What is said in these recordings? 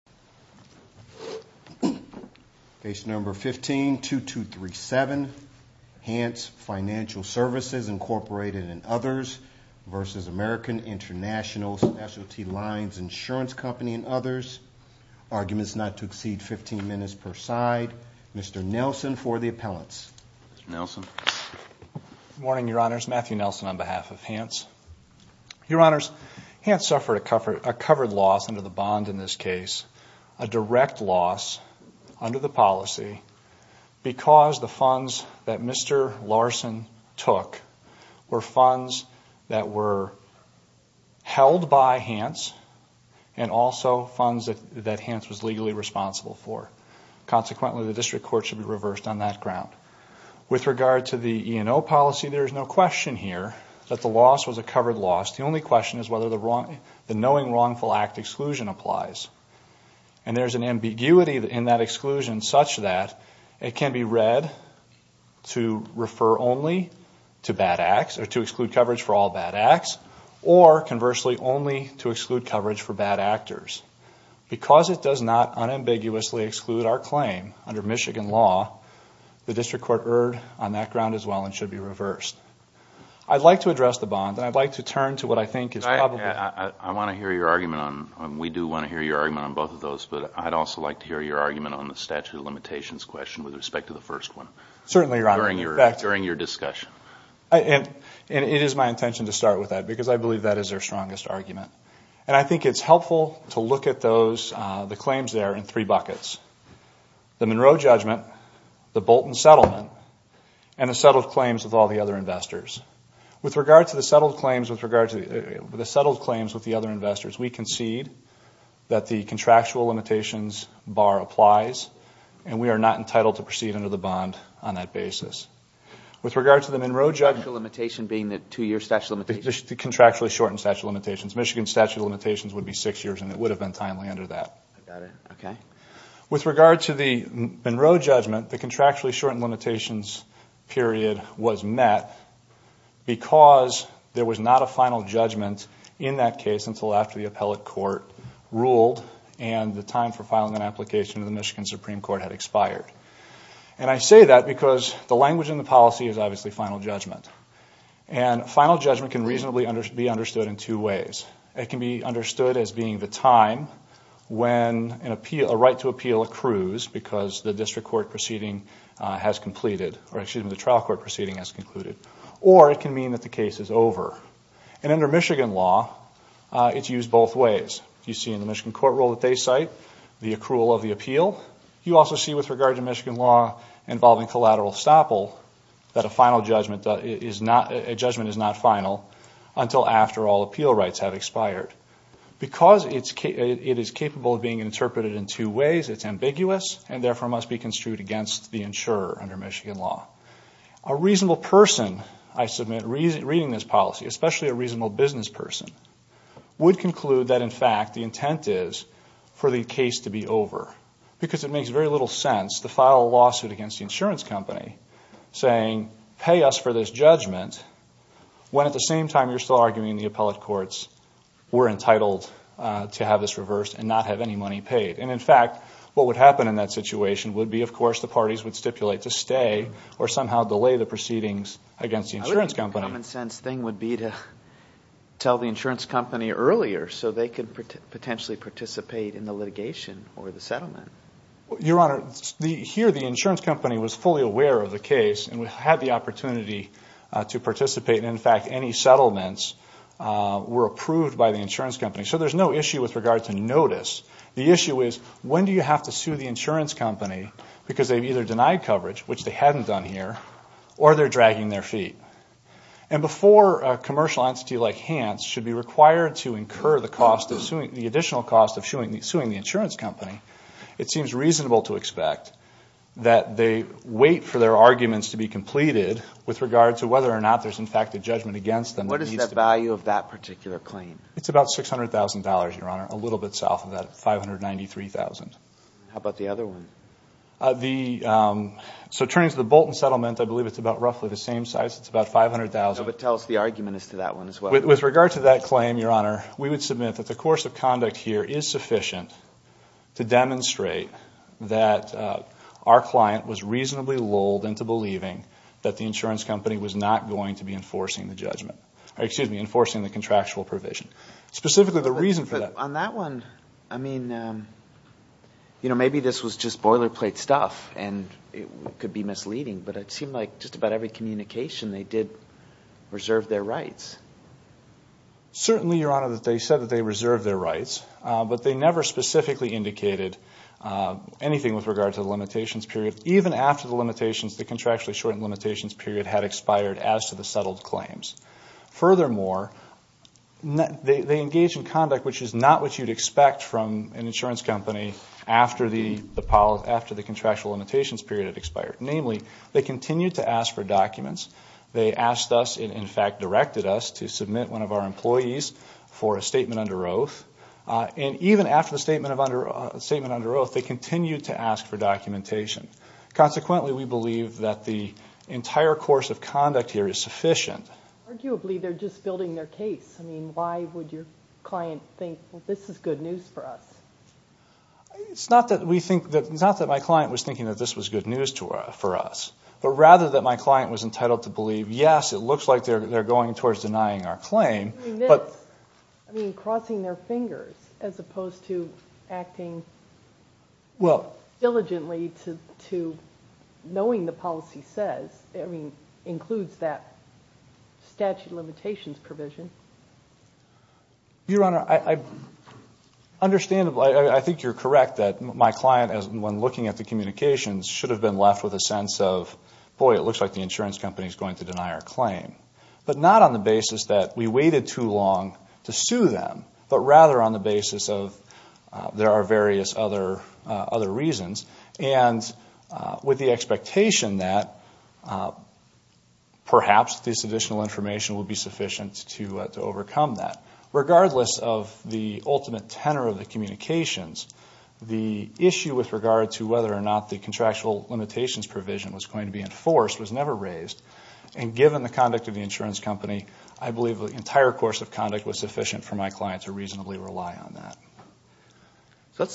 Lines Insurance Company and others. Arguments not to exceed 15 minutes per side. Mr. Nelson for the appellants. Mr. Nelson. Good morning, Your Honors. Matthew Nelson on behalf of Hantz. Your Honors, Hantz suffered a covered loss under the bond in this case. The bond is now in the hands of Hantz Financial Services, a direct loss under the policy because the funds that Mr. Larson took were funds that were held by Hantz and also funds that Hantz was legally responsible for. Consequently, the district court should be reversed on that ground. With regard to the E&O policy, there is no question here that the loss was a covered loss. The only question is whether the knowing wrongful act exclusion applies. And there is an ambiguity in that exclusion such that it can be read to refer only to bad acts or to exclude coverage for all bad acts or conversely only to exclude coverage for bad actors. Because it does not unambiguously exclude our claim under Michigan law, the district court erred on that ground as well and should be reversed. I would like to address the bond and I would like to turn to what I think is probably... I want to hear your argument on, we do want to hear your argument on both of those, but I would also like to hear your argument on the statute of limitations question with respect to the first one. Certainly, Your Honor. During your discussion. And it is my intention to start with that because I believe that is their strongest argument. And I think it is helpful to look at the claims there in three buckets. The With regard to the settled claims with the other investors, we concede that the contractual limitations bar applies. And we are not entitled to proceed under the bond on that basis. With regard to the Monroe judgment. The statute of limitations being the two-year statute of limitations. The contractually shortened statute of limitations. Michigan statute of limitations would be six years and it would have been timely under that. With regard to the Monroe judgment, the contractually shortened limitations period was met because there was not a final judgment in that case until after the appellate court ruled and the time for filing an application to the Michigan Supreme Court had expired. And I say that because the language in the policy is obviously final judgment. And final judgment can reasonably be understood in two ways. It can be understood as being the time when a right to appeal accrues because the district court proceeding has completed or the trial court proceeding has concluded. Or it can mean that the case is over. And under Michigan law, it is used both ways. You see in the Michigan court rule that they cite the accrual of the appeal. You also see with regard to Michigan law involving collateral estoppel that a judgment is not final until after all appeal rights have expired. Because it is capable of being interpreted in two ways, it is ambiguous and therefore must be construed against the insurer under Michigan law. A reasonable person, I submit, reading this policy, especially a reasonable business person, would conclude that in fact the intent is for the case to be over because it makes very little sense to file a lawsuit against the insurance company saying pay us for this judgment when at the same time you're still arguing the appellate courts were entitled to have this reversed and not have any money paid. And in fact, what would happen in that situation would be of course the parties would stipulate to stay or somehow delay the proceedings against the insurance company. I think the common sense thing would be to tell the insurance company earlier so they could potentially participate in the litigation or the settlement. Your Honor, here the insurance company was fully aware of the case and had the opportunity to participate. In fact, any settlements were approved by the insurance company. So there's no issue with regard to notice. The issue is when do you have to sue the insurance company because they've either denied coverage, which they hadn't done here, or they're dragging their feet. And before a commercial entity like Hans should be required to incur the additional cost of suing the insurance company, it seems reasonable to expect that they wait for their arguments to be completed with regard to whether or not there's in fact a judgment against them. What is the value of that particular claim? It's about $600,000, Your Honor, a little bit south of that, $593,000. How about the other one? So turning to the Bolton settlement, I believe it's about roughly the same size. It's about $500,000. No, but tell us the argument as to that one as well. With regard to that claim, Your Honor, we would submit that the course of conduct here is sufficient to demonstrate that our client was reasonably lulled into believing that the insurance company was not going to be enforcing the judgment, or excuse me, enforcing the contractual provision. Specifically the reason for that. On that one, I mean, you know, maybe this was just boilerplate stuff and it could be misleading, but it seemed like just about every communication they did reserve their rights. Certainly, Your Honor, they said that they reserved their rights, but they never specifically indicated anything with regard to the limitations period, even after the contractually shortened limitations period had expired as to the settled claims. Furthermore, they engage in conduct which is not what you'd expect from an insurance company after the contractual limitations period had expired. Namely, they continued to ask for documents. They asked us, and in fact directed us, to submit one of our employees for a statement under oath. And even after the statement under oath, they continued to ask for documentation. Consequently, we believe that the entire course of conduct here is sufficient. Arguably, they're just building their case. I mean, why would your client think, well, this is good news for us? It's not that my client was thinking that this was good news for us, but rather that my client was entitled to believe, yes, it looks like they're going towards denying our claim. I mean, crossing their fingers as opposed to acting diligently to knowing the policy says, I mean, includes that statute of limitations provision. Your Honor, understandably, I think you're correct that my client, when looking at the communications, should have been left with a sense of, boy, it looks like the insurance company is going to deny our claim. But not on the basis that we waited too long to sue them, but rather on the basis of there are various other reasons. And with the expectation that perhaps this additional information would be sufficient to overcome that. Regardless of the ultimate tenor of the communications, the issue with regard to whether or not the contractual limitations provision was going to be enforced was never raised. And given the conduct of the insurance company, I believe the entire course of conduct was sufficient for my client to reasonably rely on that.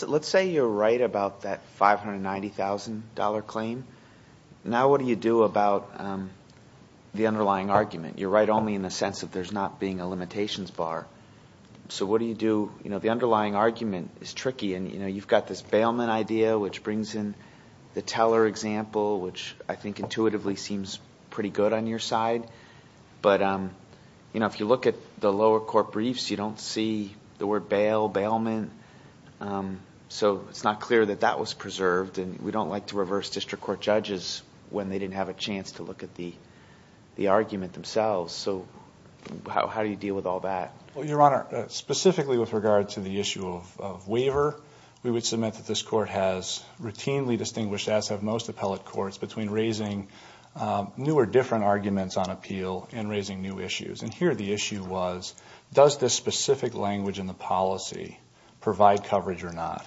Let's say you're right about that $590,000 claim. Now what do you do about the underlying argument? You're right only in the sense that there's not being a limitations bar. So what do you do? You know, the underlying argument is tricky. And, you know, you've got this bailment idea, which brings in the teller example, which I think intuitively seems pretty good on your side. But, you know, if you look at the lower court briefs, you don't see the word bail, bailment. So it's not clear that that was preserved. And we don't like to reverse district court judges when they didn't have a chance to look at the argument themselves. So how do you deal with all that? Well, Your Honor, specifically with regard to the issue of waiver, we would submit that this court has routinely distinguished, as have most appellate courts, between raising new or different arguments on appeal and raising new issues. And here the issue was, does this specific language in the policy provide coverage or not?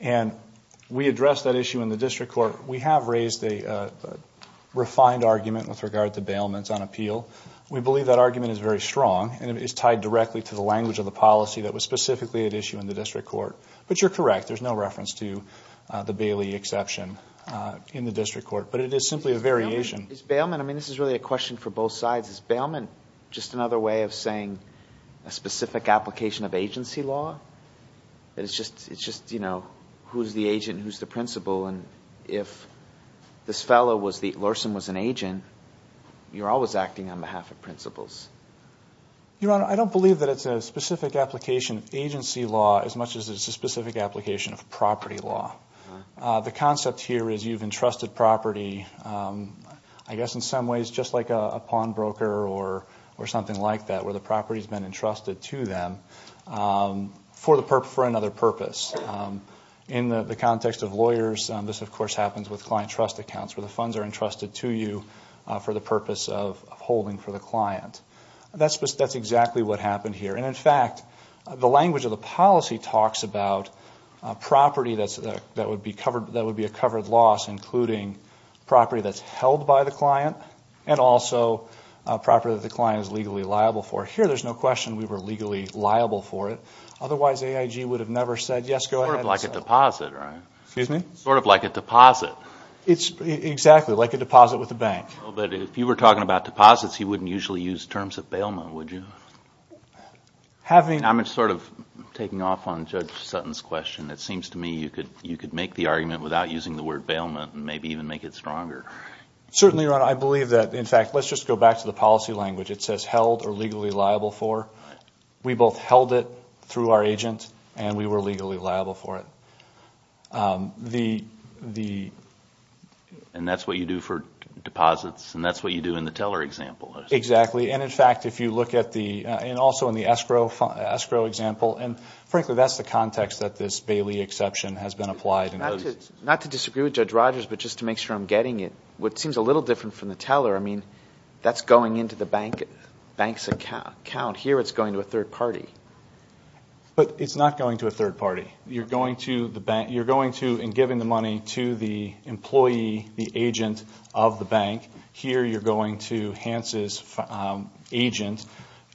And we addressed that issue in the district court. We have raised a refined argument with regard to bailments on appeal. We believe that argument is very strong, and it is tied directly to the language of the policy that was specifically at issue in the district court. But you're correct. There's no reference to the Bailey exception in the district court. But it is simply a variation. Is bailment, I mean, this is really a question for both sides. Is bailment just another way of saying a specific application of agency law? That it's just, you know, who's the agent and who's the principal? And if this fellow was the, Larson was an agent, you're always acting on behalf of principals. Your Honor, I don't believe that it's a specific application of agency law as much as it's a specific application of property law. The concept here is you've entrusted property, I guess in some ways just like a pawnbroker or something like that, where the property has been entrusted to them for another purpose. In the context of lawyers, this, of course, happens with client trust accounts, where the funds are entrusted to you for the purpose of holding for the client. That's exactly what happened here. And, in fact, the language of the policy talks about property that would be a covered loss, including property that's held by the client and also property that the client is legally liable for. Here, there's no question we were legally liable for it. Otherwise, AIG would have never said, yes, go ahead. Sort of like a deposit, right? Excuse me? Sort of like a deposit. Exactly, like a deposit with a bank. But if you were talking about deposits, you wouldn't usually use terms of bailment, would you? I'm sort of taking off on Judge Sutton's question. It seems to me you could make the argument without using the word bailment and maybe even make it stronger. Certainly, Your Honor. I believe that, in fact, let's just go back to the policy language. It says held or legally liable for. We both held it through our agent and we were legally liable for it. And that's what you do for deposits and that's what you do in the teller example. Exactly. And, in fact, if you look at the, and also in the escrow example, and frankly that's the context that this Bailey exception has been applied in. Not to disagree with Judge Rogers, but just to make sure I'm getting it. What seems a little different from the teller, I mean, that's going into the bank's account. Here, it's going to a third party. But it's not going to a third party. You're going to the bank, you're going to and giving the money to the employee, the agent of the bank. Here, you're going to Hans' agent,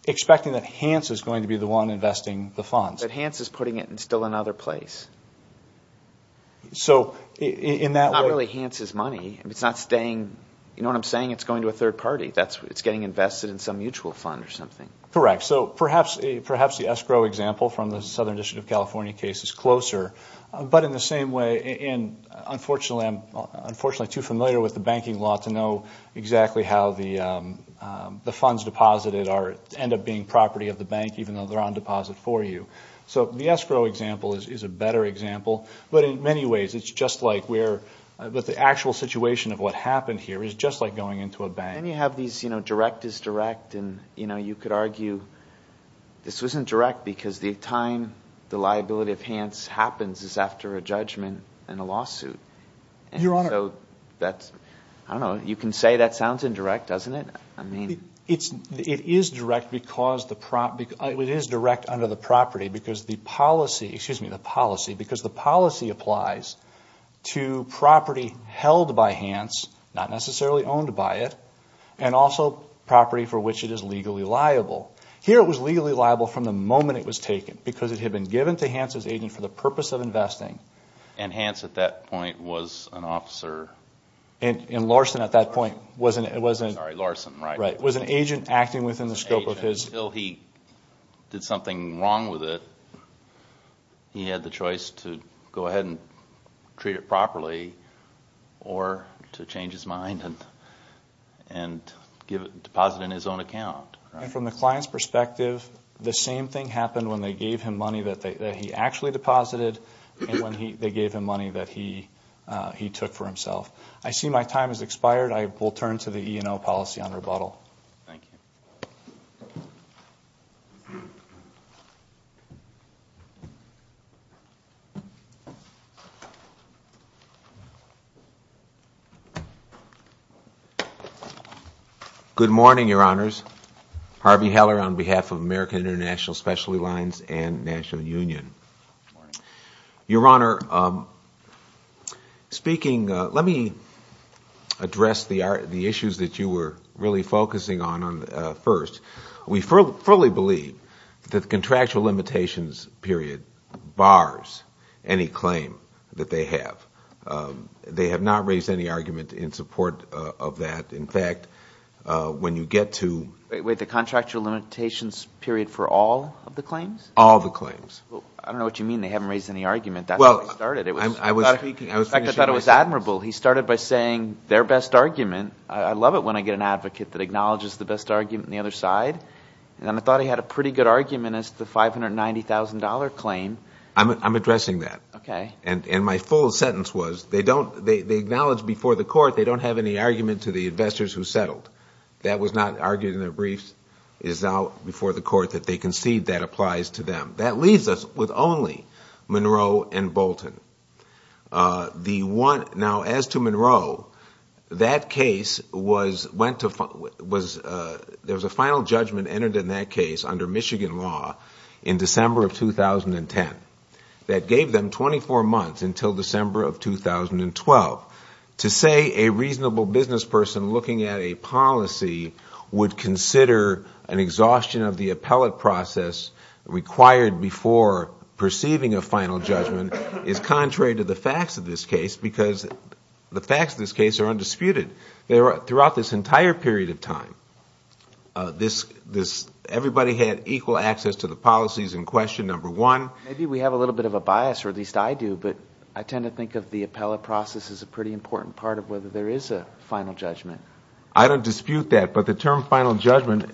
expecting that Hans is going to be the one investing the funds. But Hans is putting it in still another place. So, in that way. It's not really Hans' money. It's not staying, you know what I'm saying? It's going to a third party. It's getting invested in some mutual fund or something. Correct. So, perhaps the escrow example from the Southern District of California case is closer. But in the same way, and unfortunately I'm too familiar with the banking law to know exactly how the funds deposited end up being property of the bank, even though they're on deposit for you. So, the escrow example is a better example. But in many ways, it's just like where the actual situation of what happened here is just like going into a bank. Then you have these, you know, direct is direct. And, you know, you could argue this wasn't direct because the time the liability of Hans happens is after a judgment and a lawsuit. Your Honor. So, that's, I don't know. You can say that sounds indirect, doesn't it? I mean. It is direct under the property because the policy applies to property held by Hans, not necessarily owned by it, and also property for which it is legally liable. Here it was legally liable from the moment it was taken because it had been given to Hans' agent for the purpose of investing. And Hans at that point was an officer. And Larson at that point wasn't. Sorry, Larson, right. Was an agent acting within the scope of his. Agent. Until he did something wrong with it, he had the choice to go ahead and treat it properly or to change his mind and deposit it in his own account. And from the client's perspective, the same thing happened when they gave him money that he actually deposited and when they gave him money that he took for himself. I see my time has expired. I will turn to the E&O policy on rebuttal. Thank you. Good morning, Your Honors. Harvey Heller on behalf of American International Specialty Lines and National Union. Your Honor, speaking, let me address the issues that you were really focusing on first. We fully believe that the contractual limitations period bars any claim that they have. They have not raised any argument in support of that. In fact, when you get to. Wait, the contractual limitations period for all of the claims? All the claims. I don't know what you mean they haven't raised any argument. That's how it started. I thought it was admirable. He started by saying their best argument. I love it when I get an advocate that acknowledges the best argument on the other side. And I thought he had a pretty good argument as to the $590,000 claim. I'm addressing that. Okay. And my full sentence was they acknowledge before the court they don't have any argument to the investors who settled. That was not argued in their briefs. It is now before the court that they concede that applies to them. That leaves us with only Monroe and Bolton. Now, as to Monroe, that case was, there was a final judgment entered in that case under Michigan law in December of 2010 that gave them 24 months until December of 2012 to say a reasonable business person looking at a policy would consider an exhaustion of the appellate process required before perceiving a final judgment is contrary to the facts of this case because the facts of this case are undisputed. Throughout this entire period of time, everybody had equal access to the policies in question number one. Maybe we have a little bit of a bias, or at least I do, but I tend to think of the appellate process as a pretty important part of whether there is a final judgment. I don't dispute that. But the term final judgment,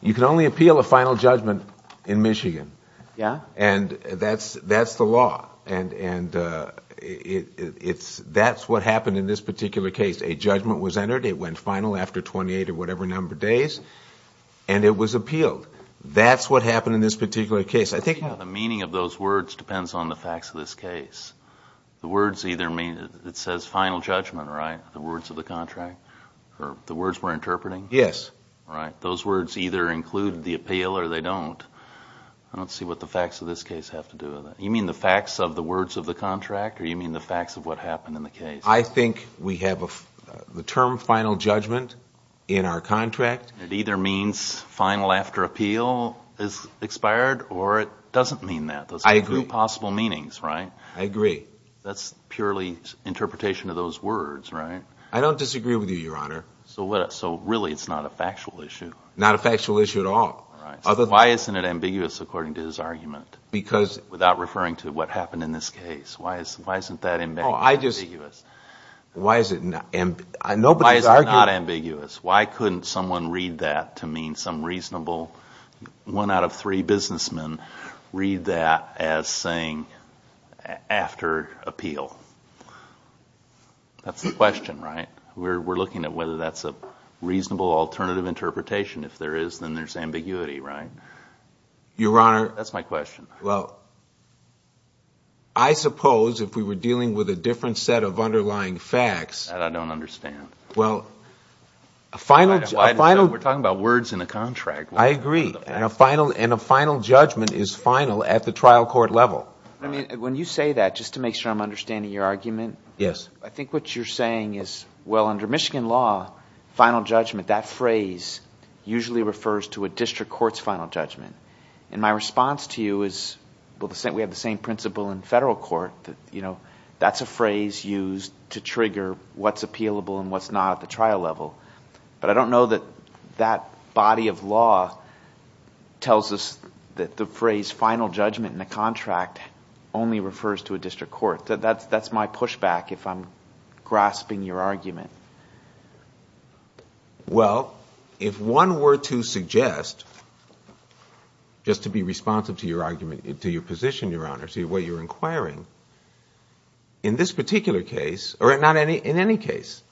you can only appeal a final judgment in Michigan. Yeah. And that's the law. And that's what happened in this particular case. A judgment was entered. It went final after 28 or whatever number of days. And it was appealed. That's what happened in this particular case. I think now the meaning of those words depends on the facts of this case. The words either mean, it says final judgment, right, the words of the contract. The words we're interpreting? Yes. Right. Those words either include the appeal or they don't. I don't see what the facts of this case have to do with it. You mean the facts of the words of the contract, or you mean the facts of what happened in the case? I think we have the term final judgment in our contract. It either means final after appeal is expired, or it doesn't mean that. I agree. Those are two possible meanings, right? I agree. That's purely interpretation of those words, right? I don't disagree with you, Your Honor. So really it's not a factual issue? Not a factual issue at all. All right. Why isn't it ambiguous according to his argument without referring to what happened in this case? Why isn't that ambiguous? Why is it not ambiguous? Why couldn't someone read that to mean some reasonable one out of three businessmen read that as saying after appeal? That's the question, right? We're looking at whether that's a reasonable alternative interpretation. If there is, then there's ambiguity, right? Your Honor. That's my question. Well, I suppose if we were dealing with a different set of underlying facts. That I don't understand. Well, a final. We're talking about words in a contract. I agree. And a final judgment is final at the trial court level. When you say that, just to make sure I'm understanding your argument. Yes. I think what you're saying is, well, under Michigan law, final judgment, that phrase usually refers to a district court's final judgment. And my response to you is, well, we have the same principle in federal court. That's a phrase used to trigger what's appealable and what's not at the trial level. But I don't know that that body of law tells us that the phrase final judgment in a contract only refers to a district court. That's my pushback if I'm grasping your argument. Well, if one were to suggest, just to be responsive to your argument, to your position, Your Honor, to the way you're inquiring. In this particular case, or in any case.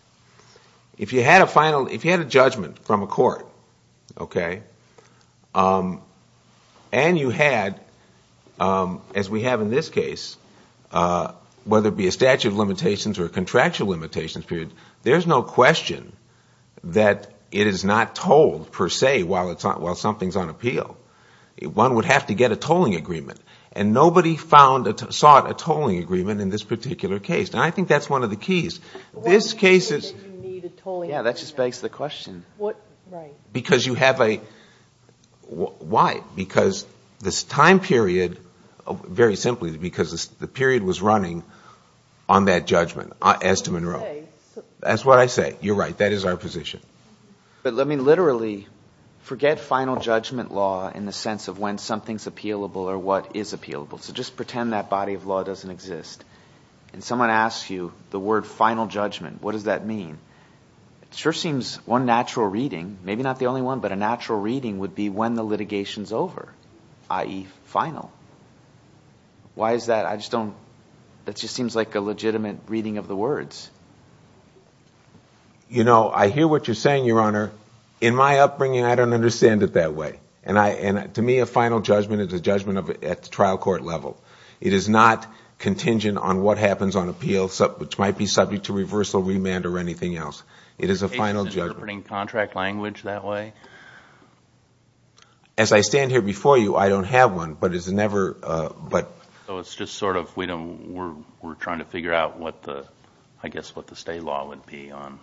If you had a judgment from a court, okay, and you had, as we have in this case, whether it be a statute of limitations or a contractual limitations period, there's no question that it is not told, per se, while something's on appeal. One would have to get a tolling agreement. And nobody sought a tolling agreement in this particular case. This case is. Yeah, that just begs the question. Because you have a. Why? Because this time period, very simply, because the period was running on that judgment, as to Monroe. That's what I say. You're right. That is our position. But let me literally forget final judgment law in the sense of when something's appealable or what is appealable. So just pretend that body of law doesn't exist. And someone asks you the word final judgment. What does that mean? It sure seems one natural reading, maybe not the only one, but a natural reading would be when the litigation's over, i.e., final. Why is that? I just don't. That just seems like a legitimate reading of the words. You know, I hear what you're saying, Your Honor. In my upbringing, I don't understand it that way. And to me, a final judgment is a judgment at the trial court level. It is not contingent on what happens on appeal, which might be subject to reversal, remand, or anything else. It is a final judgment. Are you interpreting contract language that way? As I stand here before you, I don't have one, but it's never. So it's just sort of we're trying to figure out what the, I guess, what the stay law would be on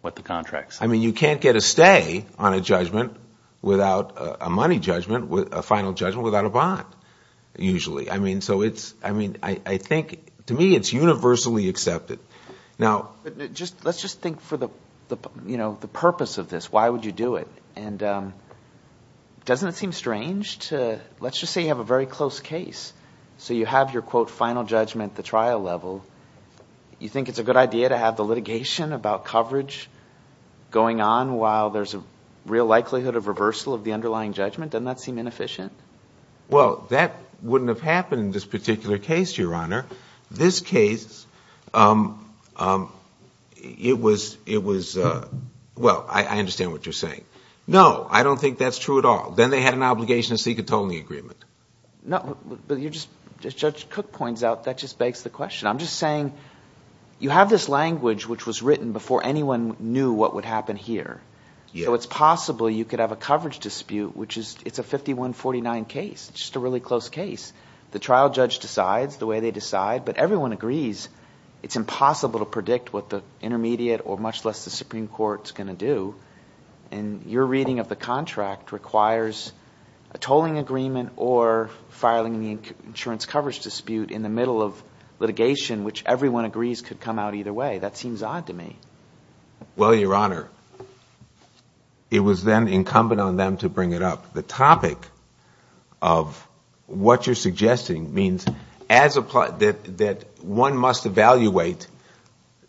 what the contract says. I mean, you can't get a stay on a judgment without a money judgment, a final judgment without a bond, usually. I mean, so it's, I mean, I think, to me, it's universally accepted. Now, let's just think for the purpose of this. Why would you do it? And doesn't it seem strange to, let's just say you have a very close case, so you have your, quote, final judgment at the trial level. You think it's a good idea to have the litigation about coverage going on while there's a real likelihood of reversal of the underlying judgment? Doesn't that seem inefficient? Well, that wouldn't have happened in this particular case, Your Honor. This case, it was, well, I understand what you're saying. No, I don't think that's true at all. Then they had an obligation to seek a tolling agreement. No, but you're just, Judge Cook points out, that just begs the question. I'm just saying you have this language which was written before anyone knew what would happen here. So it's possible you could have a coverage dispute, which is, it's a 51-49 case. It's just a really close case. The trial judge decides the way they decide, but everyone agrees it's impossible to predict what the intermediate or much less the Supreme Court is going to do. And your reading of the contract requires a tolling agreement or filing the insurance coverage dispute in the middle of litigation, which everyone agrees could come out either way. That seems odd to me. Well, Your Honor, it was then incumbent on them to bring it up. The topic of what you're suggesting means that one must evaluate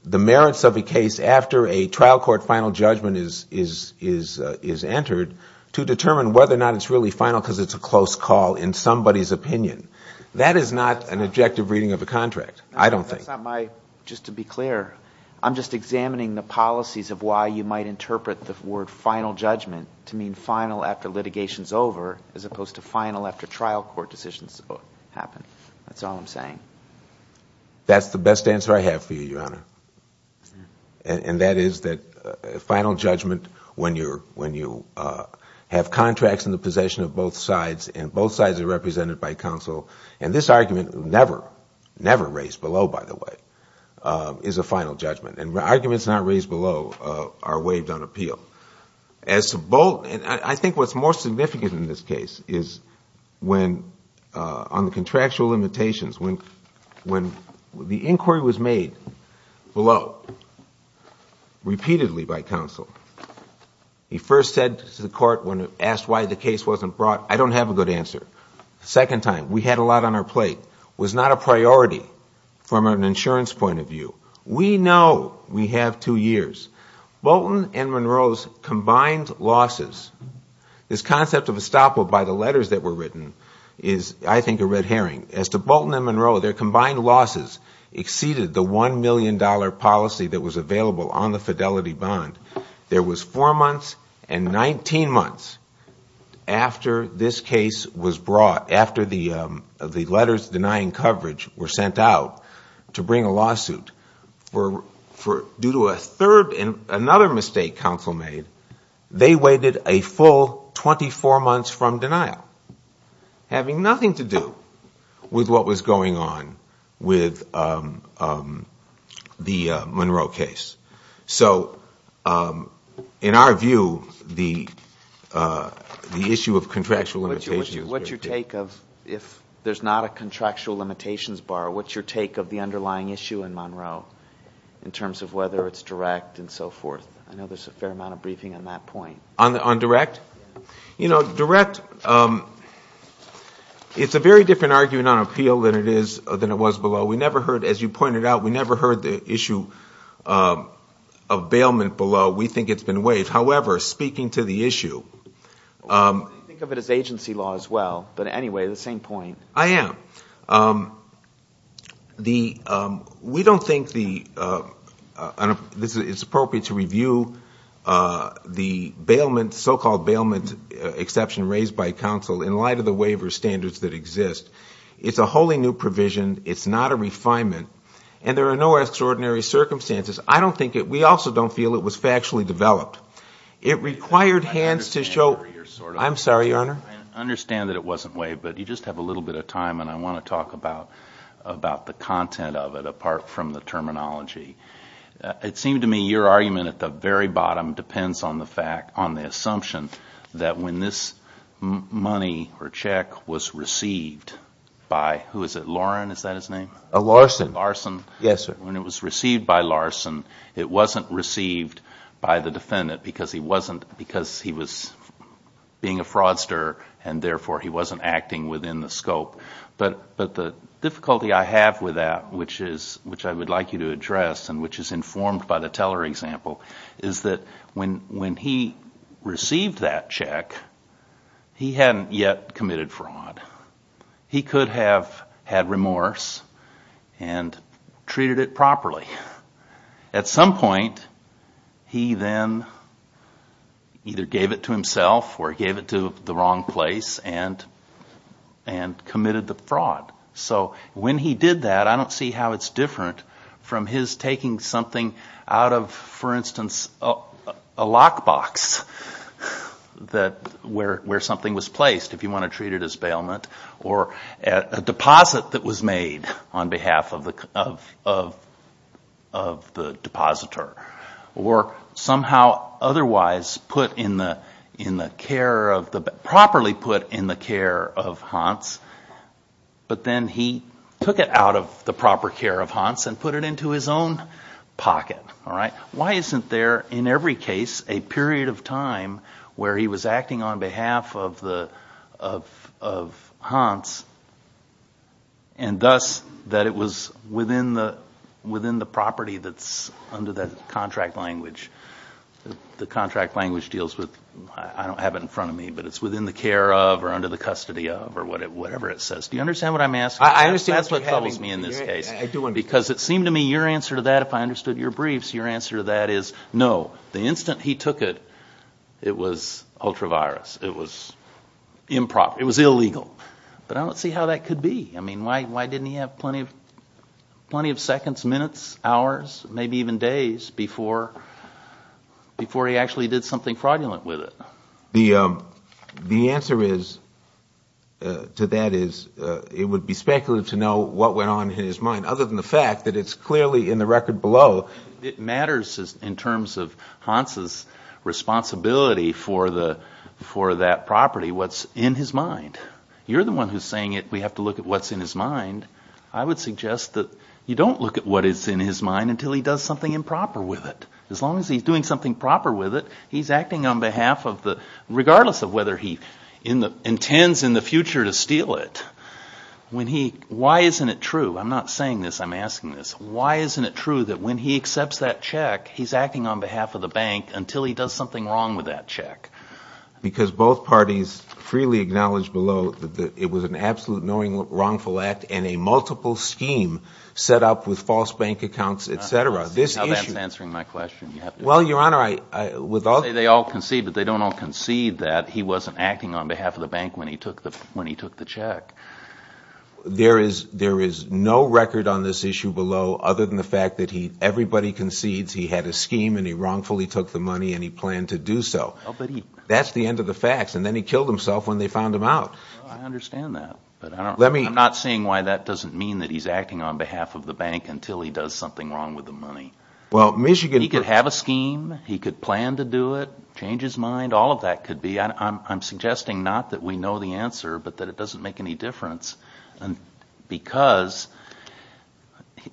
the merits of a case after a trial court final judgment is entered to determine whether or not it's really final because it's a close call in somebody's opinion. That is not an objective reading of a contract, I don't think. Just to be clear, I'm just examining the policies of why you might interpret the word final judgment to mean final after litigation is over as opposed to final after trial court decisions happen. That's all I'm saying. That's the best answer I have for you, Your Honor. And that is that final judgment when you have contracts in the possession of both sides and both sides are represented by counsel. And this argument never, never raised below, by the way, is a final judgment. And arguments not raised below are waived on appeal. As to Bolton, I think what's more significant in this case is when, on the contractual limitations, when the inquiry was made below, repeatedly by counsel, he first said to the court when asked why the case wasn't brought, I don't have a good answer. Second time, we had a lot on our plate. It was not a priority from an insurance point of view. We know we have two years. Bolton and Monroe's combined losses, this concept of estoppel by the letters that were written is, I think, a red herring. As to Bolton and Monroe, their combined losses exceeded the $1 million policy that was available on the fidelity bond. There was four months and 19 months after this case was brought, after the letters denying coverage were sent out to bring a lawsuit. Due to a third and another mistake counsel made, they waited a full 24 months from denial, having nothing to do with what was going on with the Monroe case. So in our view, the issue of contractual limitations. What's your take of, if there's not a contractual limitations bar, what's your take of the underlying issue in Monroe in terms of whether it's direct and so forth? I know there's a fair amount of briefing on that point. On direct? Yes. You know, direct, it's a very different argument on appeal than it was below. We never heard, as you pointed out, we never heard the issue of bailment below. We think it's been waived. However, speaking to the issue. I think of it as agency law as well. But anyway, the same point. I am. We don't think it's appropriate to review the so-called bailment exception raised by counsel in light of the waiver standards that exist. It's a wholly new provision. It's not a refinement. And there are no extraordinary circumstances. I don't think it, we also don't feel it was factually developed. It required hands to show. I'm sorry, Your Honor. I understand that it wasn't waived, but you just have a little bit of time and I want to talk about the content of it apart from the terminology. It seemed to me your argument at the very bottom depends on the assumption that when this money or check was received by, who is it? Lauren, is that his name? Larson. Larson. Yes, sir. When it was received by Larson, it wasn't received by the defendant because he was being a fraudster and therefore he wasn't acting within the scope. But the difficulty I have with that, which I would like you to address and which is informed by the teller example, is that when he received that check, he hadn't yet committed fraud. He could have had remorse and treated it properly. At some point, he then either gave it to himself or he gave it to the wrong place and committed the fraud. So when he did that, I don't see how it's different from his taking something out of, for instance, a lockbox where something was placed, if you want to treat it as bailment, or a deposit that was made on behalf of the depositor, or somehow otherwise properly put in the care of Hans, but then he took it out of the proper care of Hans and put it into his own pocket. Why isn't there, in every case, a period of time where he was acting on behalf of Hans and thus that it was within the property that's under the contract language? The contract language deals with, I don't have it in front of me, but it's within the care of or under the custody of or whatever it says. Do you understand what I'm asking? I do. Because it seemed to me your answer to that, if I understood your briefs, your answer to that is no, the instant he took it, it was ultra-virus, it was improper, it was illegal. But I don't see how that could be. I mean, why didn't he have plenty of seconds, minutes, hours, maybe even days before he actually did something fraudulent with it? The answer to that is it would be speculative to know what went on in his mind, other than the fact that it's clearly in the record below. It matters in terms of Hans' responsibility for that property, what's in his mind. You're the one who's saying we have to look at what's in his mind. I would suggest that you don't look at what is in his mind until he does something improper with it. As long as he's doing something proper with it, he's acting on behalf of the, regardless of whether he intends in the future to steal it. Why isn't it true, I'm not saying this, I'm asking this, why isn't it true that when he accepts that check, he's acting on behalf of the bank until he does something wrong with that check? Because both parties freely acknowledge below that it was an absolute knowing wrongful act and a multiple scheme set up with false bank accounts, etc. Now that's answering my question. Well, Your Honor, I would say they all concede, but they don't all concede that he wasn't acting on behalf of the bank when he took the check. There is no record on this issue below, other than the fact that everybody concedes he had a scheme and he wrongfully took the money and he planned to do so. That's the end of the facts, and then he killed himself when they found him out. I understand that, but I'm not seeing why that doesn't mean that he's acting on behalf of the bank until he does something wrong with the money. He could have a scheme, he could plan to do it, change his mind, all of that could be. I'm suggesting not that we know the answer, but that it doesn't make any difference. Because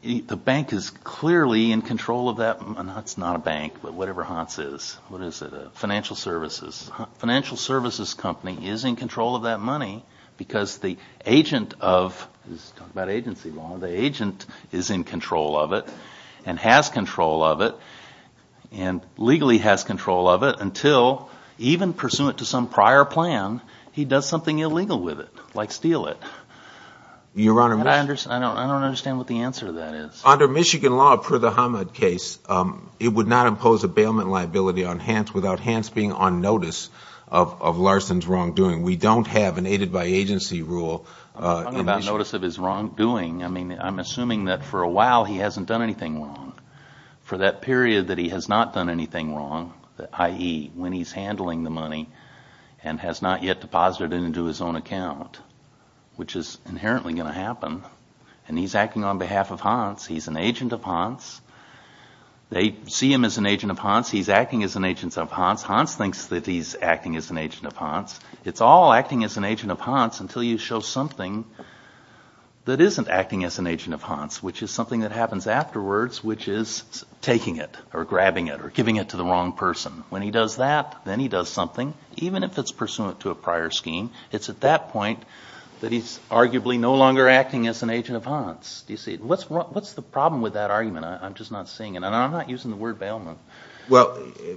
the bank is clearly in control of that money. It's not a bank, but whatever Hans is. A financial services company is in control of that money because the agent is in control of it and has control of it and legally has control of it until, even pursuant to some prior plan, he does something illegal with it, like steal it. I don't understand what the answer to that is. Under Michigan law, per the Hamad case, it would not impose a bailment liability on Hans without Hans being on notice of Larson's wrongdoing. We don't have an aided by agency rule. I'm not on notice of his wrongdoing. I'm assuming that for a while he hasn't done anything wrong. For that period that he has not done anything wrong, i.e., when he's handling the money and has not yet deposited it into his own account, which is inherently going to happen. And he's acting on behalf of Hans. He's an agent of Hans. They see him as an agent of Hans. He's acting as an agent of Hans. Hans thinks that he's acting as an agent of Hans. It's all acting as an agent of Hans until you show something that isn't acting as an agent of Hans, which is something that happens afterwards, which is taking it or grabbing it or giving it to the wrong person. When he does that, then he does something, even if it's pursuant to a prior scheme. It's at that point that he's arguably no longer acting as an agent of Hans. What's the problem with that argument? I'm just not seeing it. And I'm not using the word bailment. Well,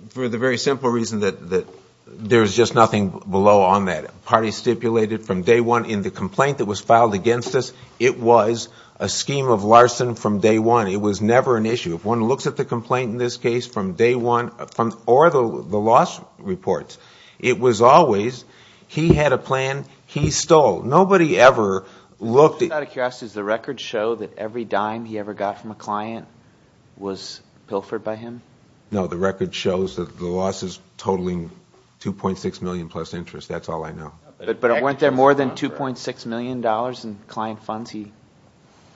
for the very simple reason that there's just nothing below on that. Party stipulated from day one in the complaint that was filed against us, it was a scheme of larceny from day one. It was never an issue. If one looks at the complaint in this case from day one or the loss reports, it was always he had a plan, he stole. Nobody ever looked at it. Is the record show that every dime he ever got from a client was pilfered by him? No, the record shows that the loss is totaling 2.6 million plus interest. That's all I know. But it went there more than 2.6 million dollars in client funds. He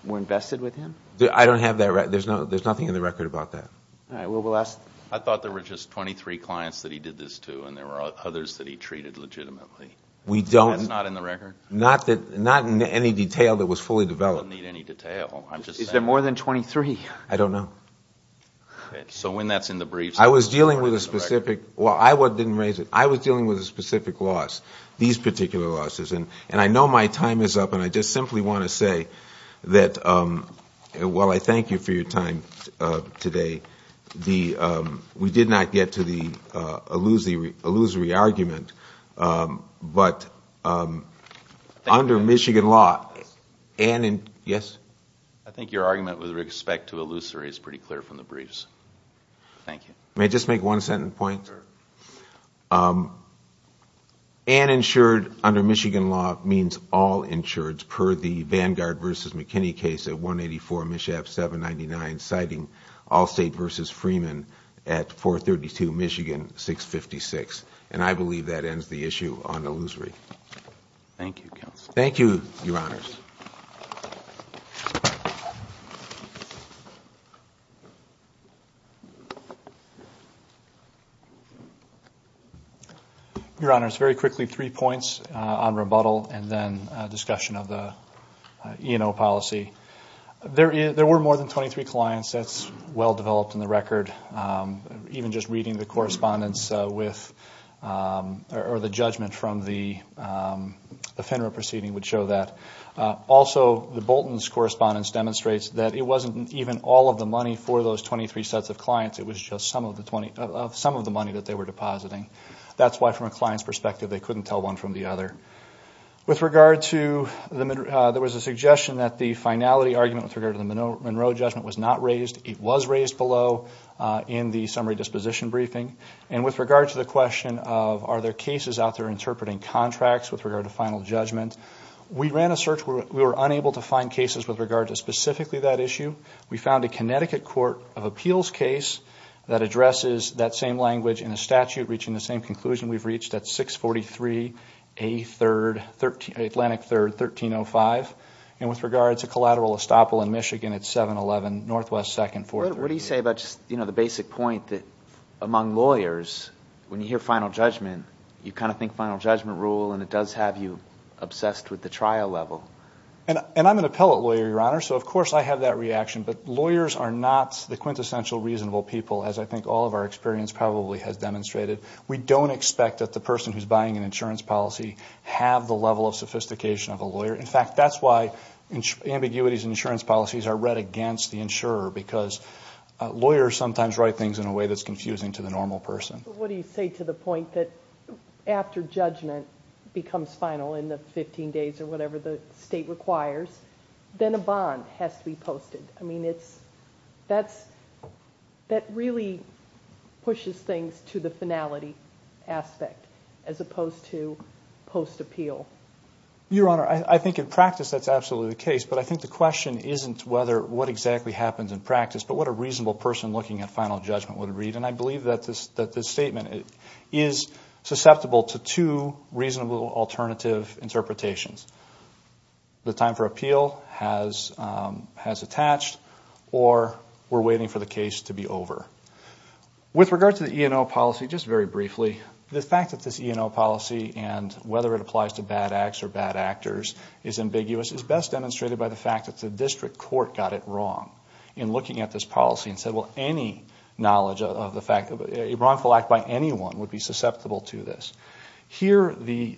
were invested with him. I don't have that. There's nothing in the record about that. I thought there were just 23 clients that he did this to and there were others that he treated legitimately. That's not in the record? Not in any detail that was fully developed. Is there more than 23? I don't know. I was dealing with a specific loss, these particular losses. And I know my time is up and I just simply want to say that while I thank you for your time today, we did not get to the illusory argument. I think your argument with respect to illusory is pretty clear from the briefs. Thank you. May I just make one sentence point? An insured under Michigan law means all insured per the Vanguard v. McKinney case at 184 Mischief 799 citing Allstate v. Freeman at 432 Michigan 656. And I believe that ends the issue on illusory. Your Honor, it's very quickly three points on rebuttal and then discussion of the E&O policy. There were more than 23 clients. That's well developed in the record. The judgment from the FINRA proceeding would show that. Also, the Bolton's correspondence demonstrates that it wasn't even all of the money for those 23 sets of clients. It was just some of the money that they were depositing. That's why from a client's perspective they couldn't tell one from the other. With regard to the, there was a suggestion that the finality argument with regard to the Monroe judgment was not raised. It was raised below in the summary disposition briefing. And with regard to the question of are there cases out there interpreting contracts with regard to final judgment, we ran a search. We were unable to find cases with regard to specifically that issue. We found a Connecticut court of appeals case that addresses that same language in a statute reaching the same conclusion we've reached. That's 643A Atlantic 3rd 1305. And with regard to collateral estoppel in Michigan at 711 Northwest 2nd 432. What do you say about the basic point that among lawyers when you hear final judgment you kind of think final judgment rule and it does have you obsessed with the trial level? And I'm an appellate lawyer, Your Honor, so of course I have that reaction, but lawyers are not the quintessential reasonable people as I think all of our experience probably has demonstrated. We don't expect that the person who's buying an insurance policy have the level of sophistication of a lawyer. In fact, that's why ambiguities in insurance policies are read against the insurer because lawyers sometimes write things in a way that's confusing to the normal person. But what do you say to the point that after judgment becomes final in the 15 days or whatever the state requires, then a bond has to be posted? I mean, that really pushes things to the finality aspect as opposed to post appeal. Your Honor, I think in practice that's absolutely the case, but I think the question isn't what exactly happens in practice, but what a reasonable person looking at final judgment would read. And I believe that this statement is susceptible to two reasonable alternative interpretations. The time for appeal has attached or we're waiting for the case to be over. With regard to the E&O policy, just very briefly, the fact that this E&O policy and whether it applies to bad acts or bad actors is ambiguous is best demonstrated by the fact that the district court got it wrong in looking at this policy and said, well, any knowledge of the E&O policy is ambiguous. A wrongful act by anyone would be susceptible to this. Here the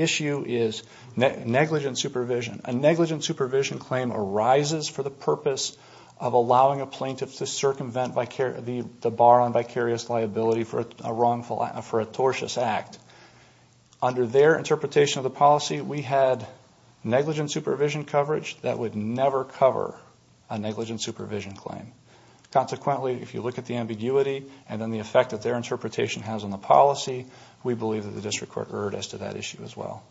issue is negligent supervision. A negligent supervision claim arises for the purpose of allowing a plaintiff to circumvent the bar on vicarious liability for a tortious act. Under their interpretation of the policy, we had negligent supervision coverage that would never cover a negligent supervision claim. Consequently, if you look at the ambiguity and then the effect that their interpretation has on the policy, we believe that the district court erred as to that issue as well.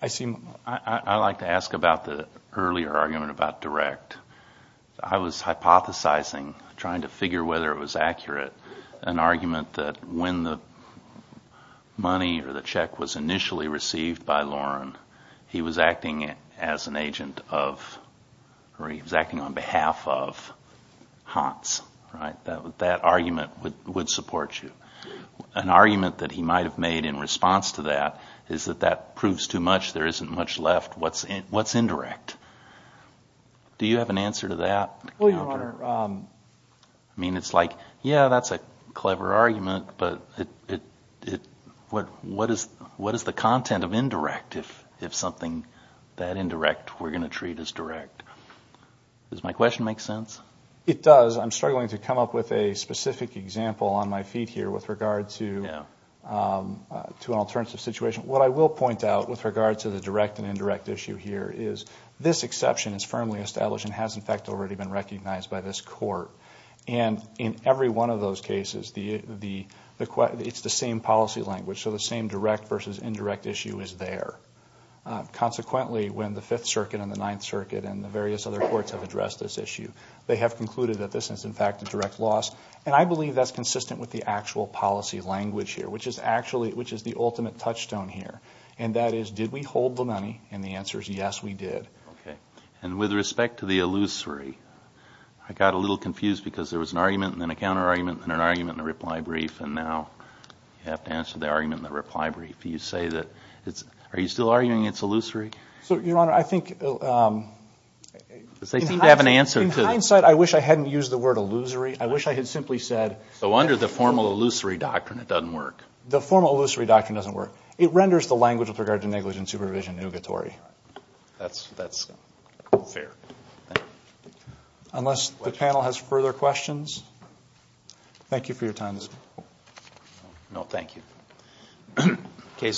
I like to ask about the earlier argument about direct. I was hypothesizing, trying to figure whether it was accurate, an argument that when the money or the check was initially received by Loren, he was acting as an agent of, or he was acting on behalf of the district court. That argument would support you. An argument that he might have made in response to that is that that proves too much, there isn't much left, what's indirect? Do you have an answer to that? It's like, yeah, that's a clever argument, but what is the content of indirect if something that indirect we're going to treat as direct? Does my question make sense? It does. I'm struggling to come up with a specific example on my feet here with regard to an alternative situation. What I will point out with regard to the direct and indirect issue here is this exception is firmly established and has, in fact, already been recognized by this court. And in every one of those cases, it's the same policy language, so the same direct versus indirect issue is there. Consequently, when the Fifth Circuit and the Ninth Circuit and the various other courts have addressed this issue, they have concluded that this is, in fact, a direct loss. And I believe that's consistent with the actual policy language here, which is the ultimate touchstone here. And that is, did we hold the money? And the answer is, yes, we did. And with respect to the illusory, I got a little confused because there was an argument and then a counter-argument and an argument and a reply brief, and now you have to answer the argument and the reply brief. Are you still arguing it's illusory? In hindsight, I wish I hadn't used the word illusory. I wish I had simply said... So under the formal illusory doctrine, it doesn't work? The formal illusory doctrine doesn't work. It renders the language with regard to negligent supervision nugatory. That's fair. Unless the panel has further questions, thank you for your time this evening.